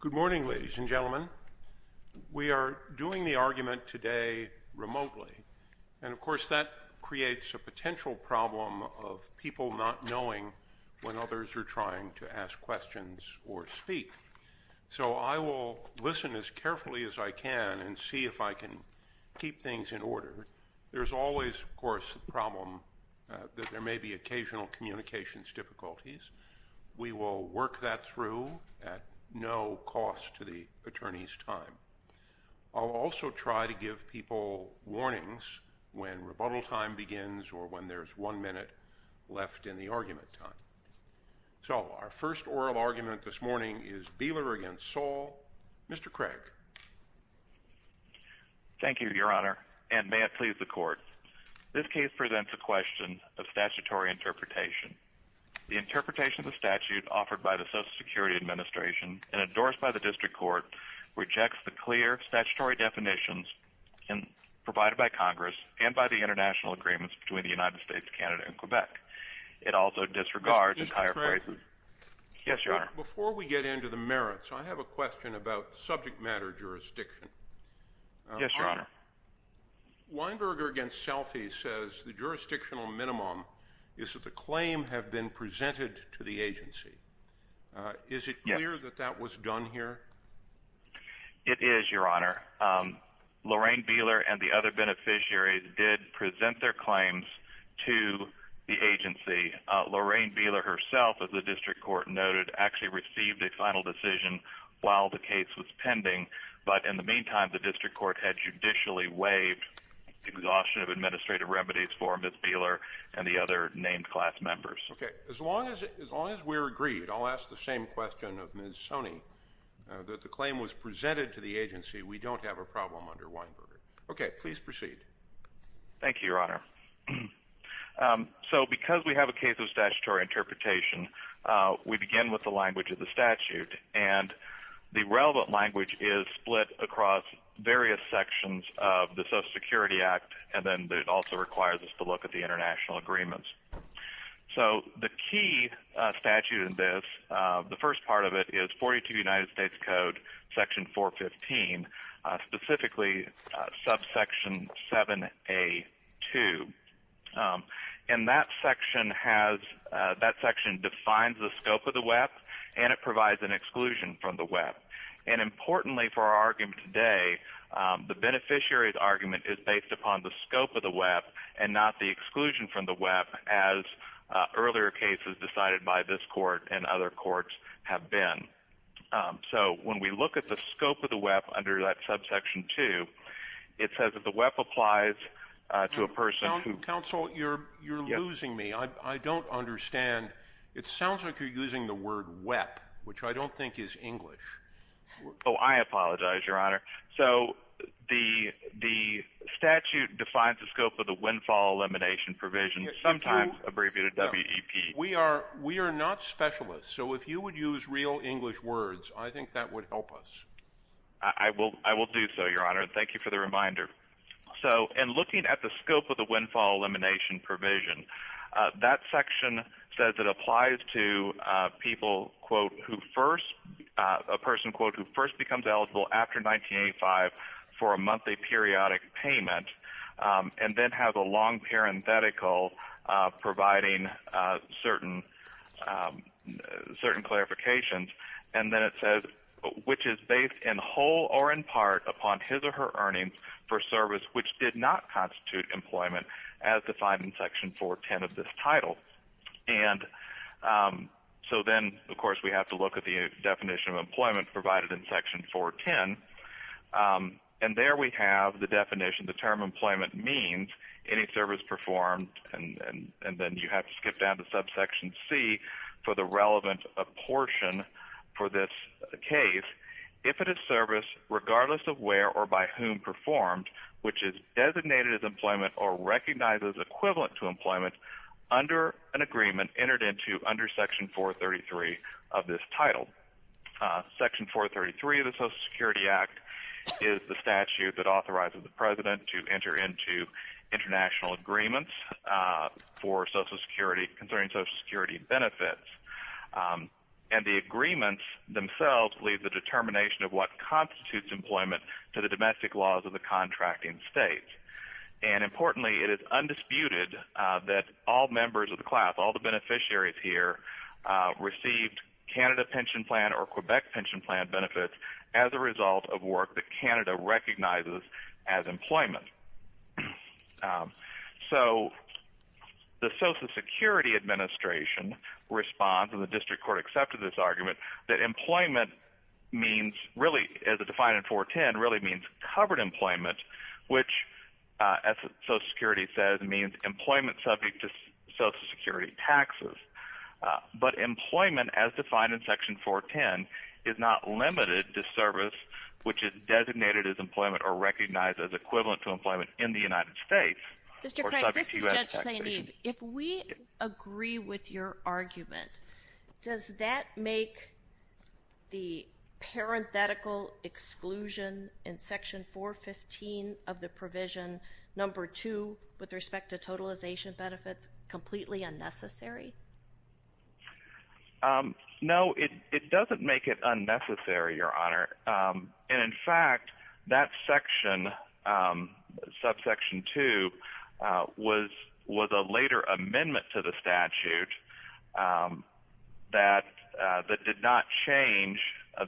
Good morning, ladies and gentlemen. We are doing the argument today remotely, and of course that creates a potential problem of people not knowing when others are trying to ask questions or speak. So I will listen as carefully as I can and see if I can keep things in order. There's always, of course, the problem that there may be occasional communications difficulties. We will work that through at no cost to the attorney's time. I'll also try to give people warnings when rebuttal time begins or when there's one minute left in the argument time. So our first oral argument this morning is Beeler v. Saul. Mr. Craig. Thank you, Your Honor, and may it please the Court. This case presents a question of statutory interpretation. The interpretation of the statute offered by the Social Security Administration and endorsed by the District Court rejects the clear statutory definitions provided by Congress and by the international agreements between the United States, Canada, and Quebec. It also disregards entire phrases. Mr. Craig. Yes, Your Honor. Before we get into the merits, I have a question about subject matter jurisdiction. Yes, Your Honor. Weinberger v. Selfie says the jurisdictional minimum is that the claim have been presented to the agency. Is it clear that that was done here? It is, Your Honor. Lorraine Beeler and the other beneficiaries did present their claims to the agency. Lorraine Beeler herself, as the District Court noted, actually received a final decision while the case was pending. But in the meantime, the Ms. Beeler and the other named class members. Okay. As long as we're agreed, I'll ask the same question of Ms. Soni, that the claim was presented to the agency, we don't have a problem under Weinberger. Okay. Please proceed. Thank you, Your Honor. So because we have a case of statutory interpretation, we begin with the language of the statute. And the relevant language is split across various sections of the Social Security Act. And then it also requires us to look at the international agreements. So the key statute in this, the first part of it is 42 United States Code, Section 415, specifically, subsection 7A2. And that section has, that section defines the beneficiary's argument is based upon the scope of the WEP, and not the exclusion from the WEP, as earlier cases decided by this court and other courts have been. So when we look at the scope of the WEP under that subsection 2, it says that the WEP applies to a person who... Counsel, you're losing me. I don't understand. It sounds like you're using the word WEP, which I don't think is English. Oh, I apologize, Your Honor. So the statute defines the scope of the windfall elimination provision, sometimes abbreviated WEP. We are not specialists. So if you would use real English words, I think that would help us. I will do so, Your Honor. Thank you for the reminder. So in looking at the scope of the windfall elimination provision, that section says it applies to people, a person, quote, who first becomes eligible after 1985 for a monthly periodic payment, and then has a long parenthetical providing certain clarifications. And then it says, which is based in whole or in part upon his or her earnings for service which did not constitute employment, as defined in Section 410 of this title. And so then, of course, we have to look at the definition of employment provided in Section 410. And there we have the definition. The term employment means any service performed, and then you have to skip down to subsection C for the relevant portion for this case, if it is service regardless of where or by whom performed, which is designated as employment or recognized as equivalent to employment under an agreement entered into under Section 433 of this title. Section 433 of the Social Security Act is the statute that authorizes the President to enter into international agreements for Social Security concerning Social Security benefits. And the agreements themselves leave the determination of what constitutes employment to the domestic laws of contracting states. And importantly, it is undisputed that all members of the class, all the beneficiaries here received Canada Pension Plan or Quebec Pension Plan benefits as a result of work that Canada recognizes as employment. So the Social Security Administration responds and the district court accepted this argument that employment means really as a defined in 410 really means covered employment, which, as Social Security says, means employment subject to Social Security taxes. But employment as defined in Section 410 is not limited to service, which is designated as employment or recognized as equivalent to employment in the United States. Mr. Craig, this is Judge St. Eve. If we agree with your argument, does that make the parenthetical exclusion in Section 415 of the provision number two with respect to totalization benefits completely unnecessary? No, it doesn't make it unnecessary, Your Honor. And in fact, that section, subsection two, was a later amendment to the statute that did not change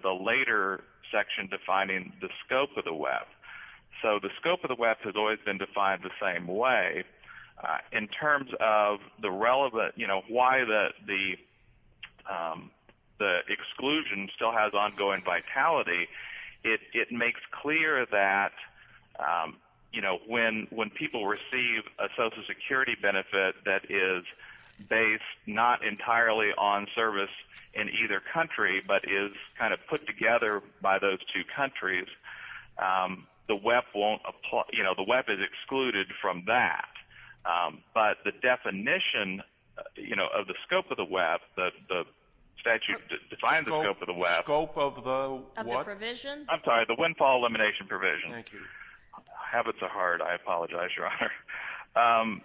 the later section defining the scope of the WEF. So the scope of the WEF has always been defined the same way. In terms of the relevant, you know, why the exclusion still has ongoing vitality, it makes clear that, you know, when people receive a Social Security benefit that is based not entirely on from that. But the definition, you know, of the scope of the WEF, the statute defines the scope of the WEF. Scope of the what? Of the provision? I'm sorry, the windfall elimination provision. Thank you. I have it to heart. I apologize, Your Honor.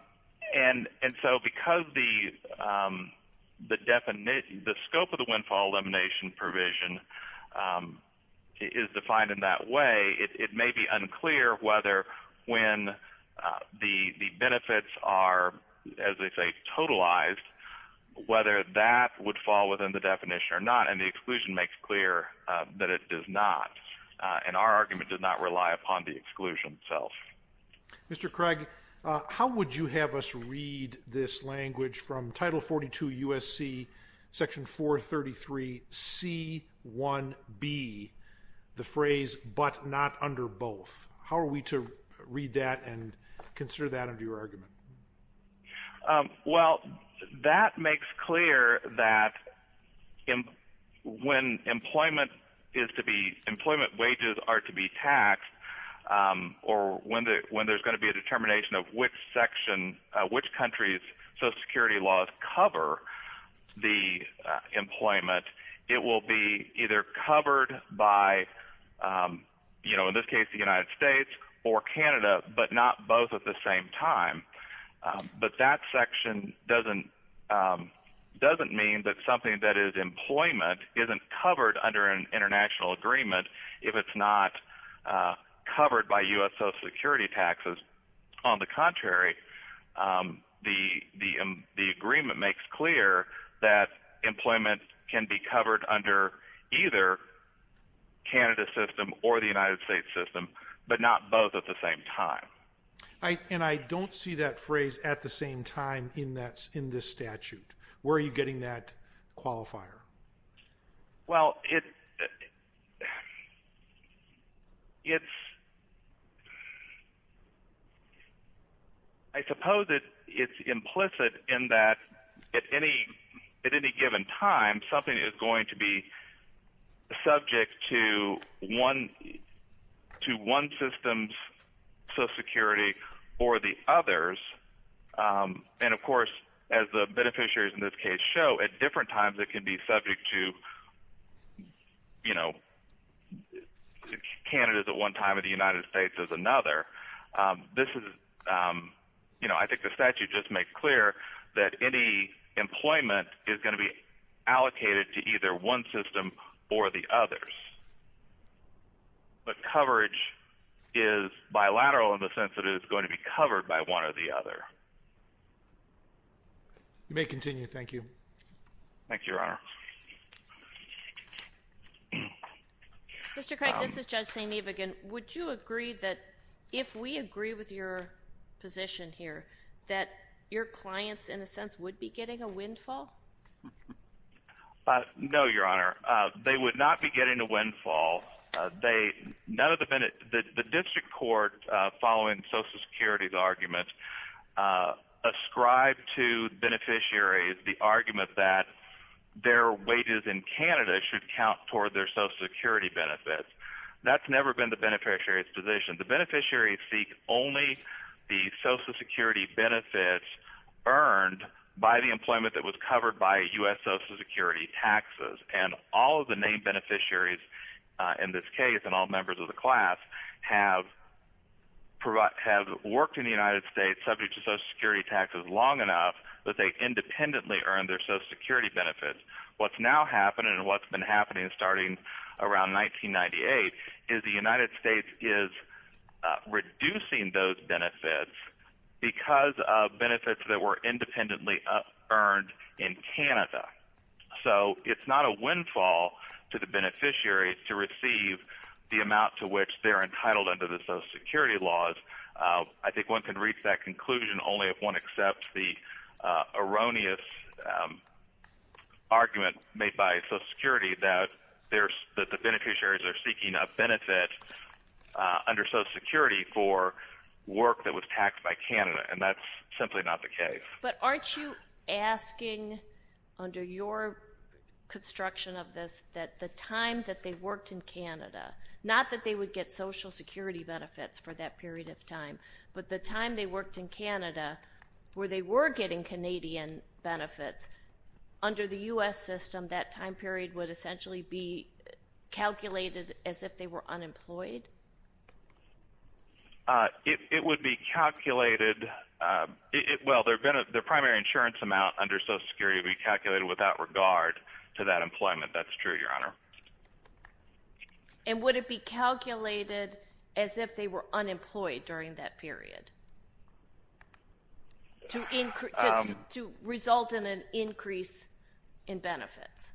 And so because the scope of the windfall elimination provision is defined in that way, it may be unclear whether when the benefits are, as they say, totalized, whether that would fall within the definition or not. And the exclusion makes clear that it does not. And our argument does not rely upon the exclusion itself. Mr. Craig, how would you have us read this language from Title 42 U.S.C. Section 433 C.1.B., the phrase but not under both? How are we to read that and consider that under your argument? Well, that makes clear that when employment is to be, employment wages are to be taxed, or when there's going to be a determination of which section, which country's Social Security laws cover the employment, it will be either covered by, you know, in this case, the United States or Canada, but not both at the same time. But that section doesn't mean that something that is employment isn't covered under an international agreement if it's not covered by U.S. Social Security taxes. On the contrary, the but not both at the same time. And I don't see that phrase at the same time in this statute. Where are you getting that qualifier? Well, it's, I suppose it's implicit in that at any given time, something is going to be subject to one system's Social Security or the subject to, you know, Canada's at one time or the United States is another. This is, you know, I think the statute just makes clear that any employment is going to be allocated to either one system or the others. But coverage is bilateral in the sense that it's going to be covered by one or the other. You may continue. Thank you. Thank you, Your Honor. Mr. Craig, this is Judge St. Evigan. Would you agree that if we agree with your position here, that your clients, in a sense, would be getting a windfall? No, Your Honor. They would not be getting a windfall. They, none of the, the district court following Social Security's arguments ascribed to beneficiaries the argument that their wages in Canada should count toward their Social Security benefits. That's never been the beneficiary's position. The beneficiaries seek only the Social Security benefits earned by the employment that was covered by U.S. Social Security taxes. And all of the named beneficiaries, in this case, and all members of the class, have worked in the United States subject to Social Security taxes long enough that they independently earned their Social Security benefits. What's now happening, and what's been happening starting around 1998, is the United States is reducing those benefits because of benefits that were independently earned in Canada. So it's not a windfall to the beneficiaries to receive the amount to which they're entitled under the Social Security laws. I think one can reach that conclusion only if one accepts the erroneous argument made by Social Security that there's, that the beneficiaries are seeking a benefit under Social Security for work that was taxed by Canada. And that's simply not the case. But aren't you asking, under your construction of this, that the time that they worked in Canada, not that they would get Social Security benefits for that period of time, but the time they worked in Canada, where they were getting Canadian benefits, under the U.S. system, that time period would essentially be calculated as if they were unemployed? It would be calculated, well, their primary insurance amount under Social Security would be calculated without regard to that employment. That's true, Your Honor. And would it be calculated as if they were unemployed during that period? To result in an increase in benefits?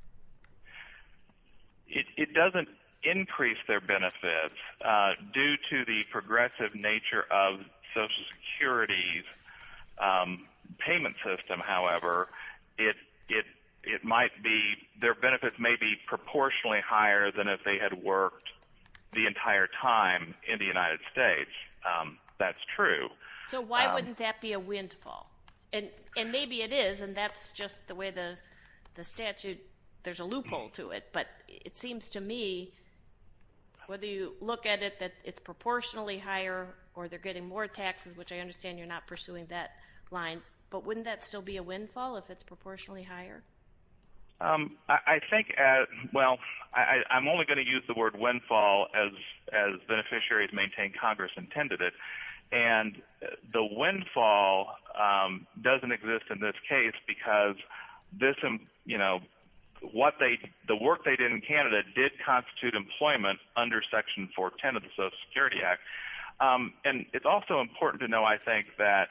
It doesn't increase their benefits. Due to the progressive nature of Social Security's payment system, however, it might be, their benefits may be proportionally higher than if they had worked the entire time in the United States. That's true. So why wouldn't that be a windfall? And maybe it is, and that's just the way the statute, there's a loophole to it, but it seems to me, whether you look at it that it's proportionally higher, or they're getting more taxes, which I understand you're not pursuing that line, but wouldn't that still be a windfall if it's proportionally higher? I think, well, I'm only going to use the word windfall as beneficiaries maintain Congress intended it, and the windfall doesn't exist in this case because the work they did in Canada did constitute employment under Section 410 of the Social Security Act. And it's also important to know, I think, that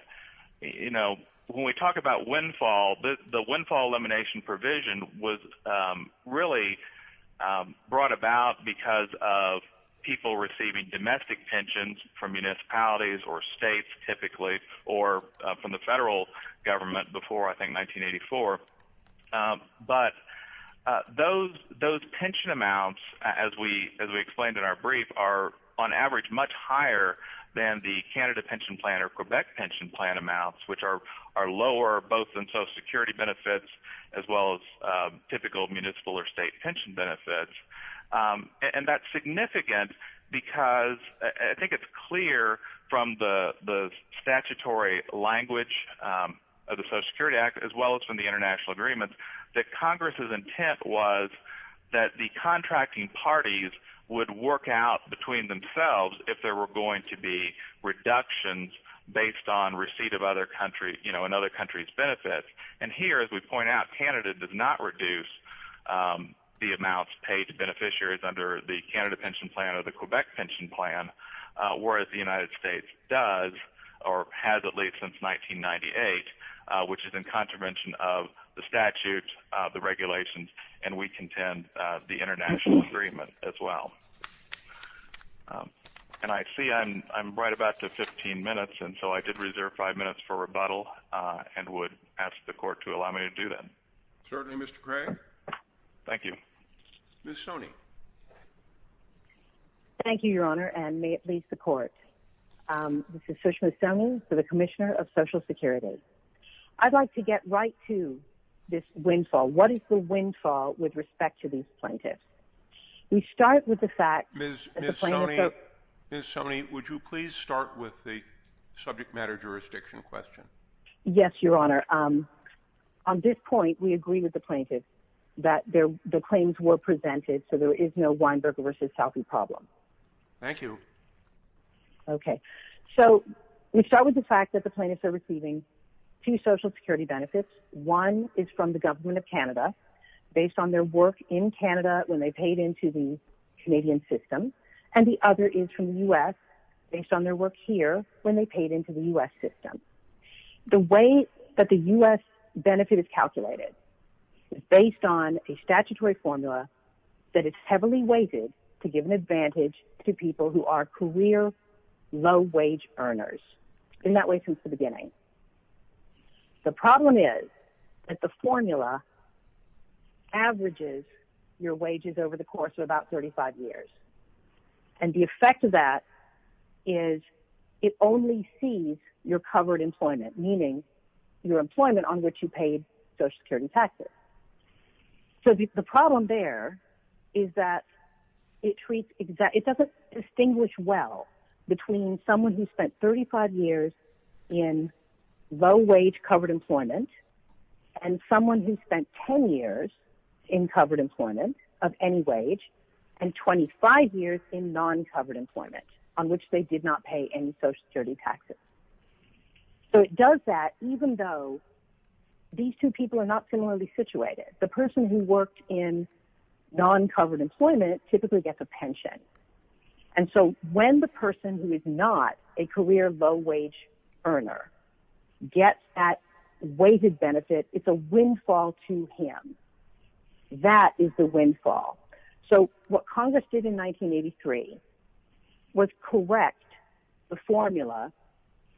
when we talk about windfall, the windfall elimination provision was really brought about because of people receiving domestic pensions from municipalities or states, typically, or from the federal government before, I think, 1984. But those pension amounts, as we explained in our brief, are on average much higher than the Canada pension plan or Quebec pension plan amounts, which are lower both in Social Security benefits as well as typical municipal or state pension benefits. And that's significant because I think it's clear from the statutory language of the Social Security Act as well as from the international agreements that Congress's intent was that the contracting parties would work out between themselves if there were going to be reductions based on receipt of other countries' benefits. And here, as we point out, Canada does not reduce the amounts paid to beneficiaries under the Canada pension plan or the Quebec pension plan, whereas the United States does or has at least since 1998, which is in contravention of the statutes, the regulations, and we contend the international agreement as well. And I see I'm right about to 15 minutes, and so I did reserve five minutes for rebuttal and would ask the court to allow me to do that. Certainly, Mr. Craig. Thank you. Ms. Sone. Thank you, Your Honour, and may it please the court. This is Sushma Sone for the Commissioner of Social Security. I'd like to get right to this windfall. What is the windfall with respect to these plaintiffs? We start with the fact… Ms. Sone, would you please start with the subject matter jurisdiction question? Yes, Your Honour. On this point, we agree with the plaintiffs that the claims were presented, so there is no Weinberger v. Southie problem. Thank you. Okay. So we start with the fact that the plaintiffs are receiving two Social Security benefits. One is from the Government of Canada based on their work in Canada when they paid into the Canadian system, and the other is from the U.S. based on their work here when they paid into the U.S. system. The way that the U.S. benefit is calculated is based on a statutory formula that is heavily weighted to give an advantage to people who are career low-wage earners, in that way since the beginning. The problem is that the formula averages your wages over the course of about 35 years, and the effect of that is it only sees your covered employment, meaning your employment on which you paid Social Security taxes. So the problem there is that it doesn't distinguish well between someone who spent 35 years in low-wage covered employment and someone who spent 10 years in covered employment of any wage and 25 years in non-covered employment on which they did not pay any Social Security taxes. So it does that even though these two people are not similarly situated. The person who worked in non-covered employment typically gets a pension, and so when the person who is not a career low-wage earner gets that weighted benefit, it's a windfall to him. That is the windfall. So what Congress did in 1983 was correct the formula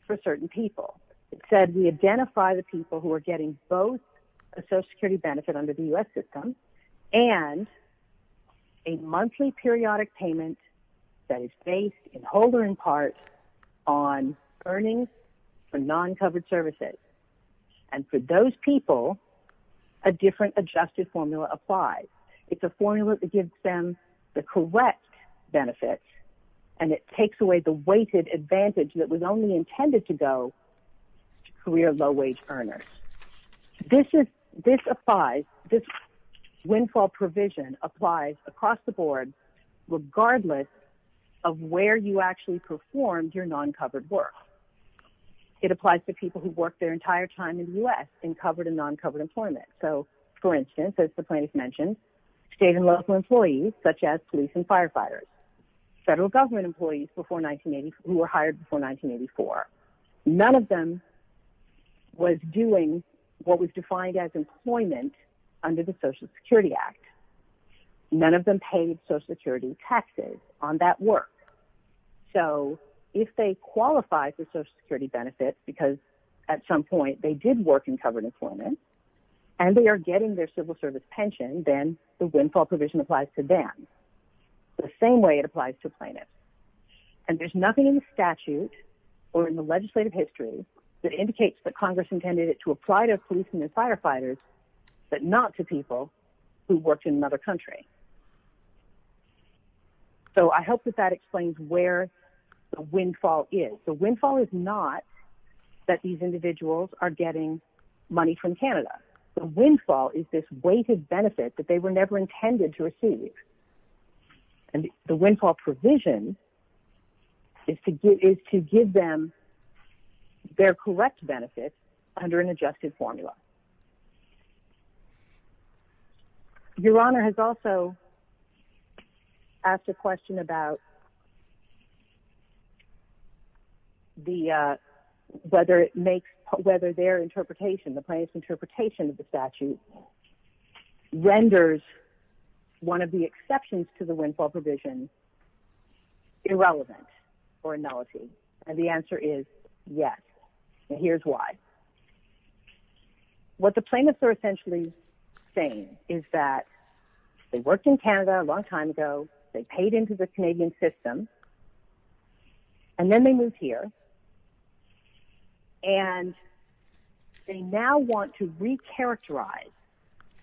for certain people. It said we identify the people who are getting both a Social Security benefit under the U.S. system and a monthly periodic payment that is based in whole or in part on earnings for non-covered services. And for those people, a different adjusted formula applies. It's a formula that gives them the correct benefit, and it takes away the weighted advantage that was only intended to go to career low-wage earners. This is – this applies – this windfall provision applies across the board regardless of where you actually performed your non-covered work. It applies to people who worked their entire time in the U.S. in covered and non-covered employment. So, for instance, as the plaintiff mentioned, state and local employees such as police and firefighters, federal government employees before – who were hired before 1984. None of them was doing what was defined as employment under the Social Security Act. None of them paid Social Security taxes on that work. So, if they qualify for Social Security benefits because at some point they did work in covered employment and they are getting their civil service pension, then the windfall provision applies to them the same way it applies to plaintiffs. And there's nothing in the statute or in the legislative history that indicates that Congress intended it to apply to police and firefighters but not to people who worked in another country. So, I hope that that explains where the windfall is. The windfall is not that these individuals are getting money from Canada. The windfall is this weighted benefit that they were never intended to receive. And the windfall provision is to give them their correct benefits under an adjusted formula. Your Honor has also asked a question about whether their interpretation, the plaintiff's interpretation of the statute, renders one of the exceptions to the windfall provision irrelevant or nullified. And the answer is yes. And here's why. What the plaintiffs are essentially saying is that they worked in Canada a long time ago. They paid into the Canadian system. And then they moved here. And they now want to recharacterize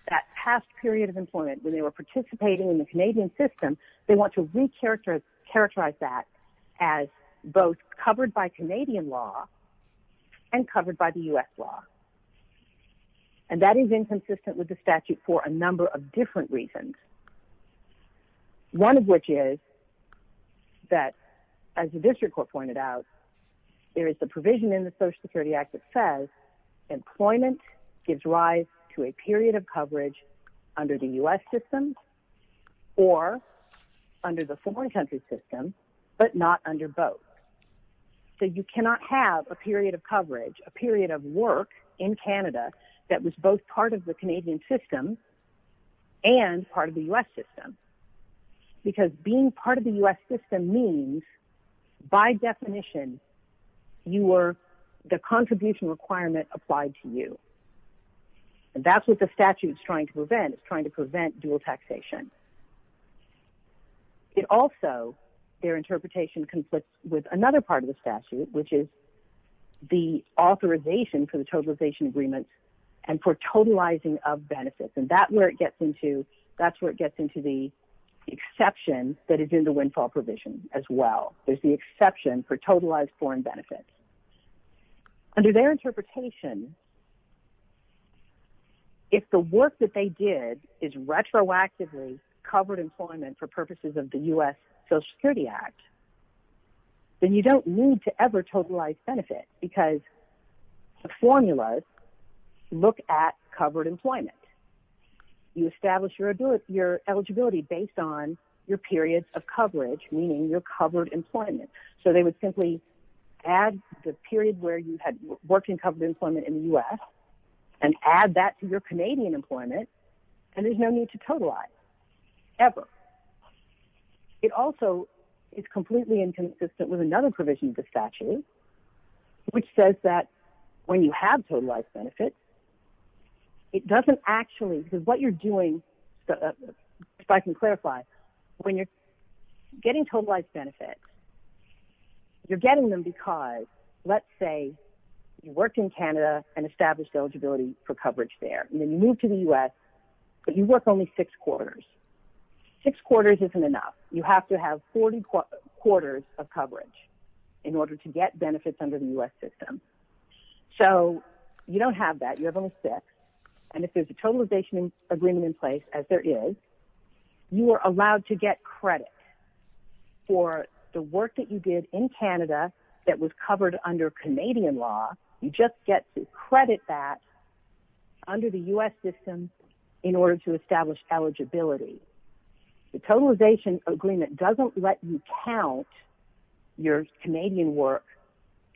that past period of employment when they were participating in the Canadian system. They want to recharacterize that as both covered by Canadian law and covered by the U.S. law. And that is inconsistent with the statute for a number of different reasons. One of which is that, as the district court pointed out, there is a provision in the Social Security Act that says employment gives rise to a period of coverage under the U.S. system or under the foreign country system, but not under both. So you cannot have a period of coverage, a period of work in Canada that was both part of the Canadian system and part of the U.S. system. Because being part of the U.S. system means, by definition, the contribution requirement applied to you. And that's what the statute is trying to prevent. It's trying to prevent dual taxation. It also, their interpretation conflicts with another part of the statute, which is the authorization for the totalization agreements and for totalizing of benefits. And that's where it gets into the exception that is in the windfall provision as well. There's the exception for totalized foreign benefits. Under their interpretation, if the work that they did is retroactively covered employment for purposes of the U.S. Social Security Act, then you don't need to ever totalize benefits because the formulas look at covered employment. You establish your eligibility based on your periods of coverage, meaning your covered employment. So they would simply add the period where you had working covered employment in the U.S. and add that to your Canadian employment, and there's no need to totalize, ever. It also is completely inconsistent with another provision of the statute, which says that when you have totalized benefits, it doesn't actually, because what you're doing, if I can clarify, when you're getting totalized benefits, you're getting them because, let's say, you worked in Canada and established eligibility for coverage there, and then you moved to the U.S., but you work only six quarters. Six quarters isn't enough. You have to have 40 quarters of coverage in order to get benefits under the U.S. system. So you don't have that. You have only six, and if there's a totalization agreement in place, as there is, you are allowed to get credit for the work that you did in Canada that was covered under Canadian law. You just get to credit that under the U.S. system in order to establish eligibility. The totalization agreement doesn't let you count your Canadian work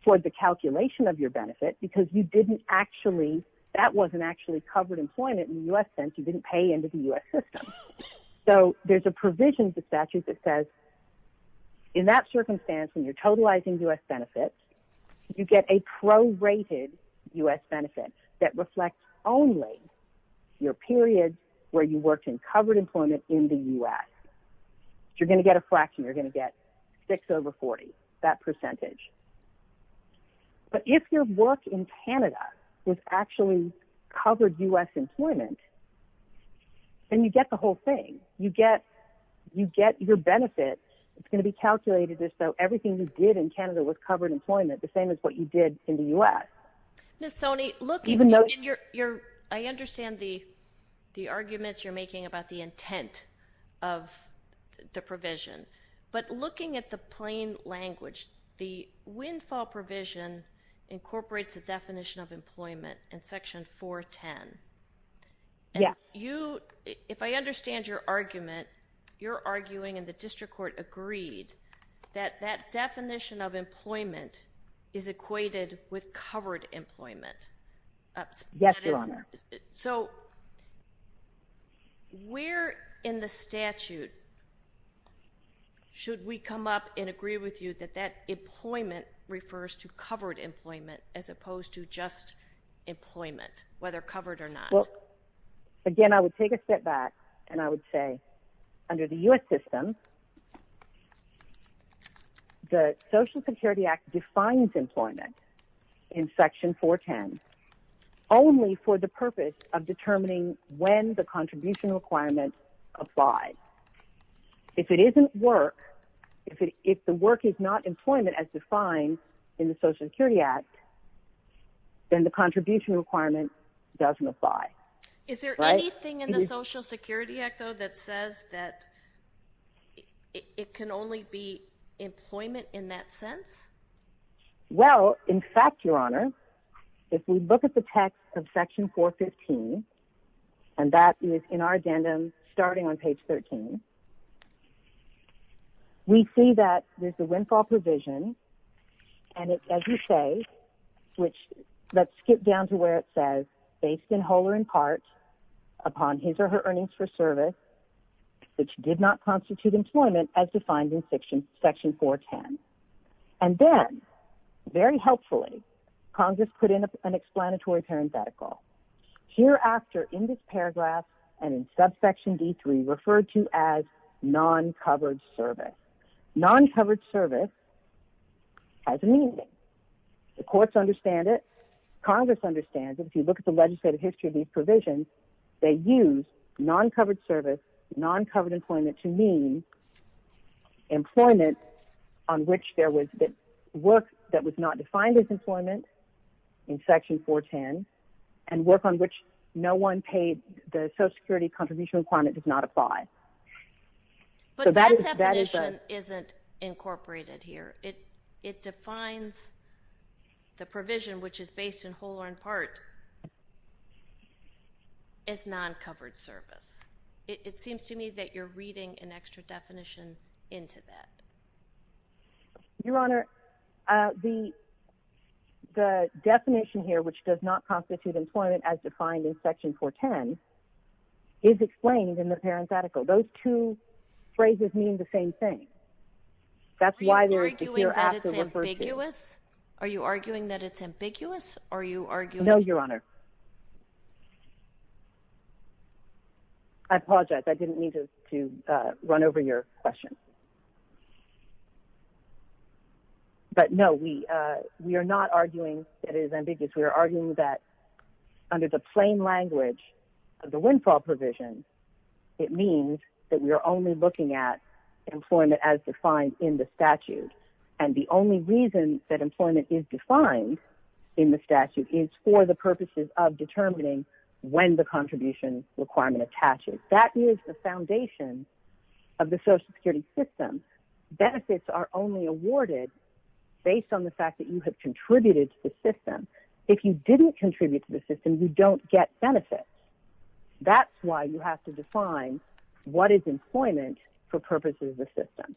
for the calculation of your benefit because you didn't actually, that wasn't actually covered employment in the U.S. You didn't pay into the U.S. system. So there's a provision in the statute that says, in that circumstance, when you're totalizing U.S. benefits, you get a prorated U.S. benefit that reflects only your period where you worked in covered employment in the U.S. You're going to get a fraction. You're going to get six over 40, that percentage. But if your work in Canada was actually covered U.S. employment, then you get the whole thing. You get your benefit. It's going to be calculated as though everything you did in Canada was covered employment, the same as what you did in the U.S. Ms. Soni, look, I understand the arguments you're making about the intent of the provision. But looking at the plain language, the windfall provision incorporates the definition of employment in Section 410. If I understand your argument, you're arguing, and the district court agreed, that that definition of employment is equated with covered employment. Yes, Your Honor. So, where in the statute should we come up and agree with you that that employment refers to covered employment as opposed to just employment, whether covered or not? Well, again, I would take a step back and I would say, under the U.S. system, the Social Security Act defines employment in Section 410 only for the purpose of determining when the contribution requirements apply. If it isn't work, if the work is not employment as defined in the Social Security Act, then the contribution requirement doesn't apply. Is there anything in the Social Security Act, though, that says that it can only be employment in that sense? Well, in fact, Your Honor, if we look at the text of Section 415, and that is in our addendum, starting on page 13, we see that there's a windfall provision, and it, as you say, which, let's skip down to where it says, based in whole or in part upon his or her earnings for service, which did not constitute employment as defined in Section 410. And then, very helpfully, Congress put in an explanatory parenthetical. Hereafter, in this paragraph, and in subsection D3, referred to as non-covered service. Non-covered service has a meaning. The courts understand it. Congress understands it. If you look at the legislative history of these provisions, they use non-covered service, non-covered employment to mean employment on which there was work that was not defined as employment in Section 410, and work on which no one paid the Social Security contribution requirement does not apply. But that definition isn't incorporated here. It defines the provision, which is based in whole or in part, as non-covered service. It seems to me that you're reading an extra definition into that. Your Honor, the definition here, which does not constitute employment as defined in Section 410, is explained in the parenthetical. Those two phrases mean the same thing. Are you arguing that it's ambiguous? No, Your Honor. I apologize. I didn't mean to run over your question. But no, we are not arguing that it is ambiguous. We are arguing that under the plain language of the windfall provision, it means that we are only looking at employment as defined in the statute. And the only reason that employment is defined in the statute is for the purposes of determining when the contribution requirement attaches. That is the foundation of the Social Security system. Benefits are only awarded based on the fact that you have contributed to the system. If you didn't contribute to the system, you don't get benefits. That's why you have to define what is employment for purposes of the system.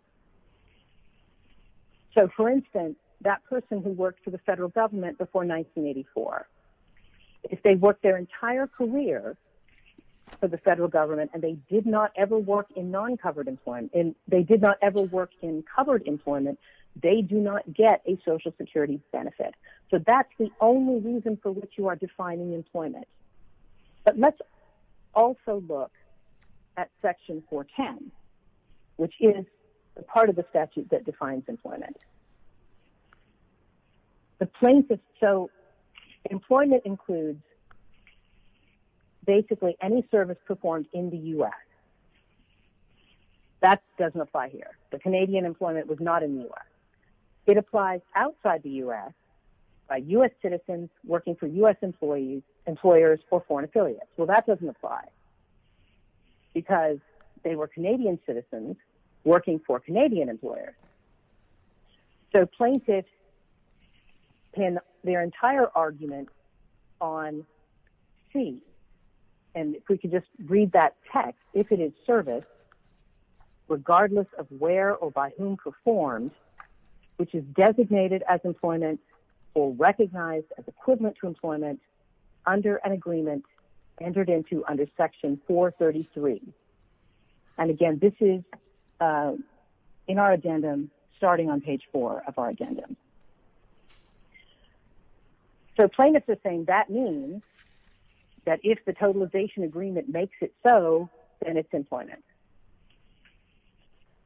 So, for instance, that person who worked for the federal government before 1984, if they worked their entire career for the federal government and they did not ever work in non-covered employment, they did not ever work in covered employment, they do not get a Social Security benefit. So that's the only reason for which you are defining employment. But let's also look at Section 410, which is part of the statute that defines employment. So employment includes basically any service performed in the U.S. That doesn't apply here. The Canadian employment was not in the U.S. It applies outside the U.S. by U.S. citizens working for U.S. employers or foreign affiliates. Well, that doesn't apply because they were Canadian citizens working for Canadian employers. So plaintiffs pin their entire argument on C. And if we could just read that text, if it is service, regardless of where or by whom performed, which is designated as employment or recognized as equivalent to employment under an agreement entered into under Section 433. And, again, this is in our addendum starting on page 4 of our addendum. So plaintiffs are saying that means that if the totalization agreement makes it so, then it's employment.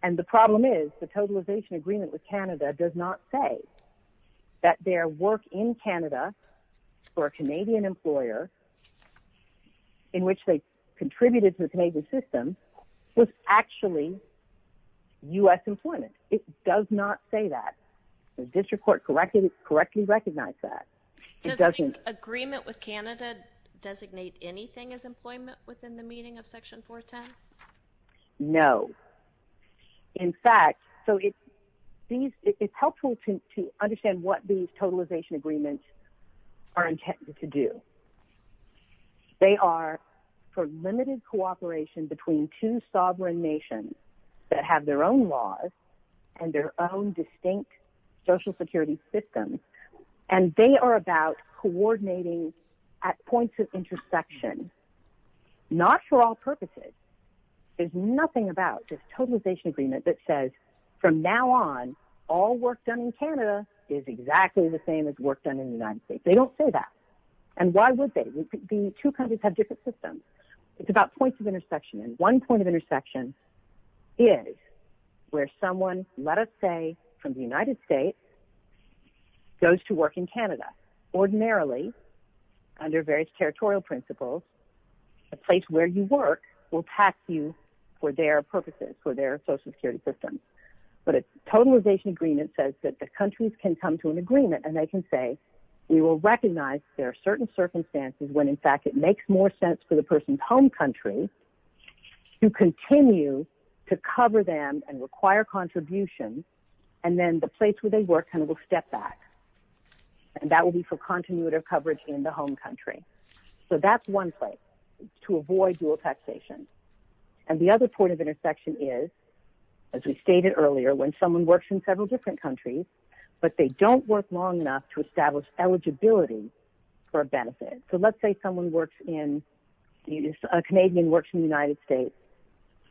And the problem is the totalization agreement with Canada does not say that their work in Canada for a Canadian employer in which they contributed to the Canadian system was actually U.S. employment. It does not say that. The district court correctly recognized that. Does the agreement with Canada designate anything as employment within the meaning of Section 410? No. In fact, so it's helpful to understand what these totalization agreements are intended to do. They are for limited cooperation between two sovereign nations that have their own laws and their own distinct social security systems. And they are about coordinating at points of intersection, not for all purposes. There's nothing about this totalization agreement that says from now on, all work done in Canada is exactly the same as work done in the United States. They don't say that. And why would they? The two countries have different systems. It's about points of intersection. And one point of intersection is where someone, let us say, from the United States goes to work in Canada. Ordinarily, under various territorial principles, a place where you work will pass you for their purposes, for their social security systems. But a totalization agreement says that the countries can come to an agreement and they can say, we will recognize there are certain circumstances when, in fact, it makes more sense for the person's home country to continue to cover them and require contributions. And then the place where they work kind of will step back. And that will be for continuative coverage in the home country. So that's one place to avoid dual taxation. And the other point of intersection is, as we stated earlier, when someone works in several different countries, but they don't work long enough to establish eligibility for a benefit. So let's say someone works in – a Canadian works in the United States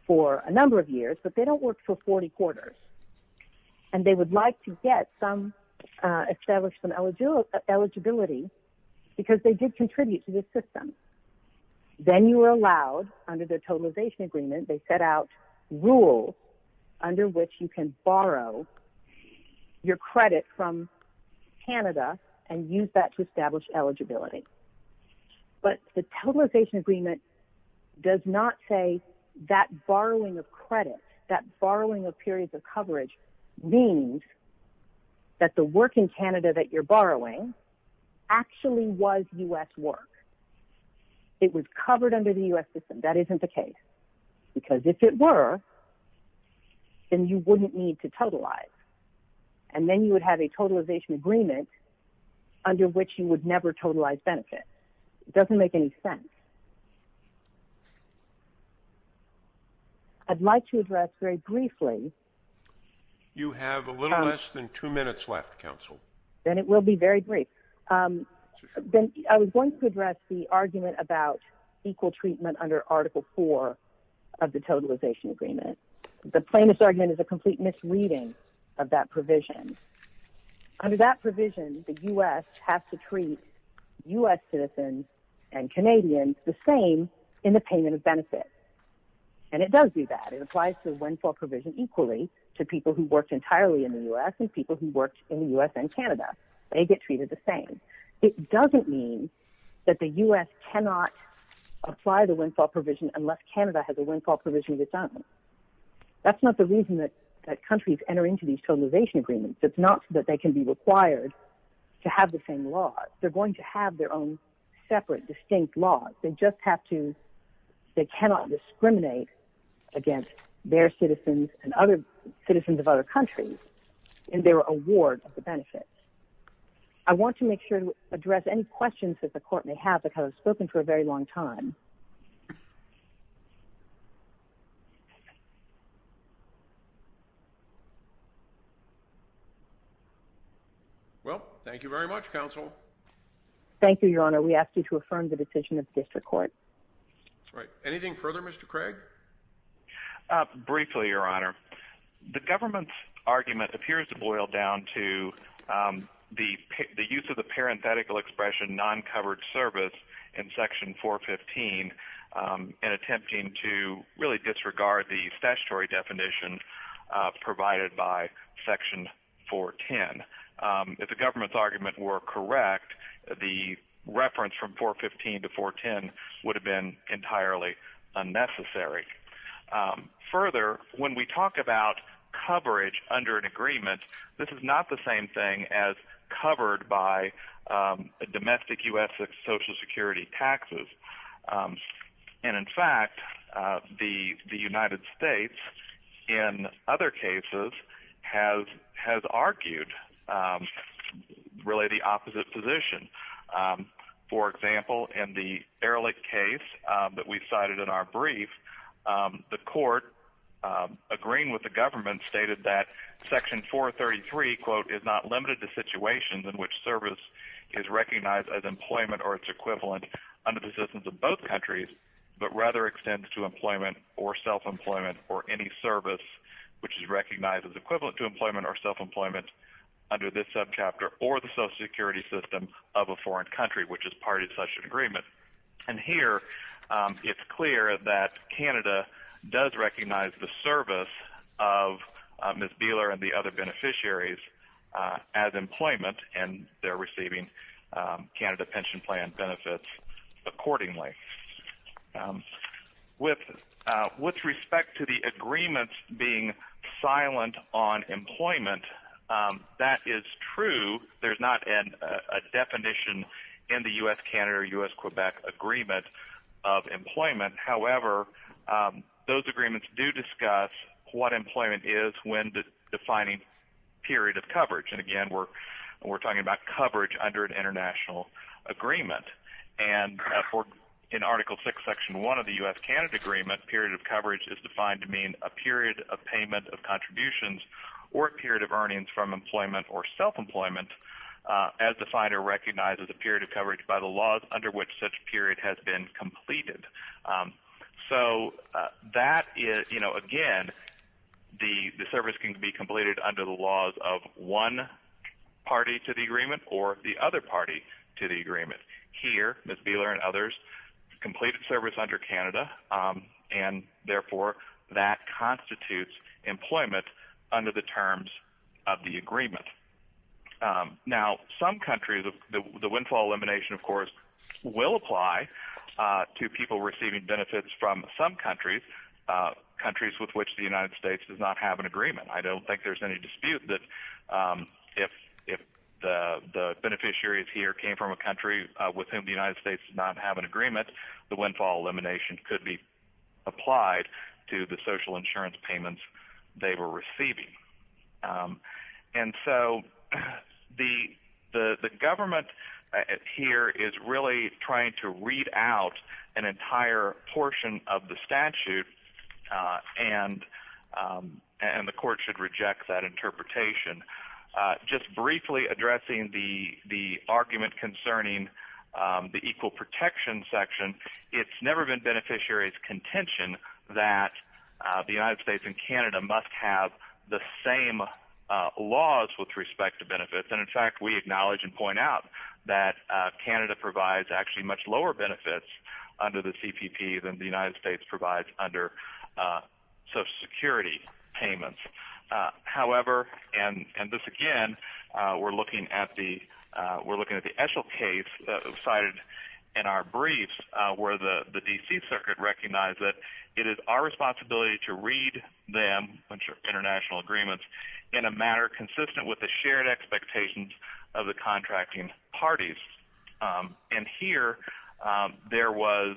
for a number of years, but they don't work for 40 quarters. And they would like to get some – establish some eligibility because they did contribute to this system. Then you are allowed, under the totalization agreement, they set out rules under which you can borrow your credit from Canada and use that to establish eligibility. But the totalization agreement does not say that borrowing of credit, that borrowing of periods of coverage, means that the work in Canada that you're borrowing actually was U.S. work. It was covered under the U.S. system. That isn't the case. Because if it were, then you wouldn't need to totalize. And then you would have a totalization agreement under which you would never totalize benefits. It doesn't make any sense. I'd like to address very briefly – You have a little less than two minutes left, Counsel. Then it will be very brief. Then I was going to address the argument about equal treatment under Article 4 of the totalization agreement. The plaintiff's argument is a complete misreading of that provision. Under that provision, the U.S. has to treat U.S. citizens and Canadians the same in the payment of benefits. And it does do that. It applies to the one-fall provision equally to people who worked entirely in the U.S. and people who worked in the U.S. and Canada. They get treated the same. It doesn't mean that the U.S. cannot apply the one-fall provision unless Canada has a one-fall provision of its own. That's not the reason that countries enter into these totalization agreements. It's not that they can be required to have the same laws. They're going to have their own separate, distinct laws. They just have to – they cannot discriminate against their citizens and citizens of other countries in their award of the benefits. I want to make sure to address any questions that the court may have because I've spoken for a very long time. Well, thank you very much, Counsel. Thank you, Your Honor. We ask you to affirm the decision of the district court. That's right. Anything further, Mr. Craig? Briefly, Your Honor. The government's argument appears to boil down to the use of the parenthetical expression non-covered service in Section 415 in attempting to really disregard the statutory definition provided by Section 410. If the government's argument were correct, the reference from 415 to 410 would have been entirely unnecessary. Further, when we talk about coverage under an agreement, this is not the same thing as covered by domestic U.S. Social Security taxes. And in fact, the United States in other cases has argued really the opposite position. For example, in the Ehrlich case that we cited in our brief, the court, agreeing with the government, stated that Section 433, quote, is not limited to situations in which service is recognized as employment or its equivalent under the systems of both countries, but rather extends to employment or self-employment or any service which is recognized as equivalent to employment or self-employment under this subchapter or the Social Security system of a foreign country which is part of such an agreement. And here, it's clear that Canada does recognize the service of Ms. Beeler and the other beneficiaries as employment, and they're receiving Canada Pension Plan benefits accordingly. With respect to the agreements being silent on employment, that is true. There's not a definition in the U.S.-Canada or U.S.-Quebec agreement of employment. However, those agreements do discuss what employment is when defining period of coverage. And again, we're talking about coverage under an international agreement. And in Article VI, Section 1 of the U.S.-Canada agreement, period of coverage is defined to mean a period of payment of contributions or a period of earnings from employment or self-employment as defined or recognized as a period of coverage by the laws under which such period has been completed. So that is, you know, again, the service can be completed under the laws of one party to the agreement or the other party to the agreement. Here, Ms. Beeler and others completed service under Canada, and therefore, that constitutes employment under the terms of the agreement. Now, some countries, the windfall elimination, of course, will apply to people receiving benefits from some countries, countries with which the United States does not have an agreement. I don't think there's any dispute that if the beneficiaries here came from a country with whom the United States does not have an agreement, the windfall elimination could be applied to the social insurance payments they were receiving. And so the government here is really trying to read out an entire portion of the statute, and the court should reject that interpretation. Just briefly addressing the argument concerning the equal protection section, it's never been beneficiaries' contention that the United States and Canada must have the same laws with respect to benefits. And, in fact, we acknowledge and point out that Canada provides actually much lower benefits under the CPP than the United States provides under social security payments. However, and this again, we're looking at the Eshel case cited in our briefs, where the D.C. Circuit recognized that it is our responsibility to read them, which are international agreements, in a manner consistent with the shared expectations of the contracting parties. And here there was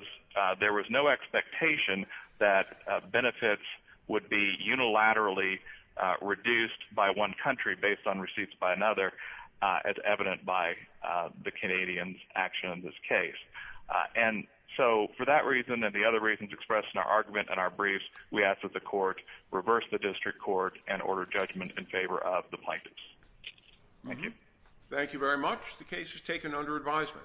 no expectation that benefits would be unilaterally reduced by one country based on receipts by another, as evident by the Canadians' action in this case. And so for that reason and the other reasons expressed in our argument and our briefs, we ask that the court reverse the district court and order judgment in favor of the plaintiffs. Thank you. Thank you very much. The case is taken under advisement.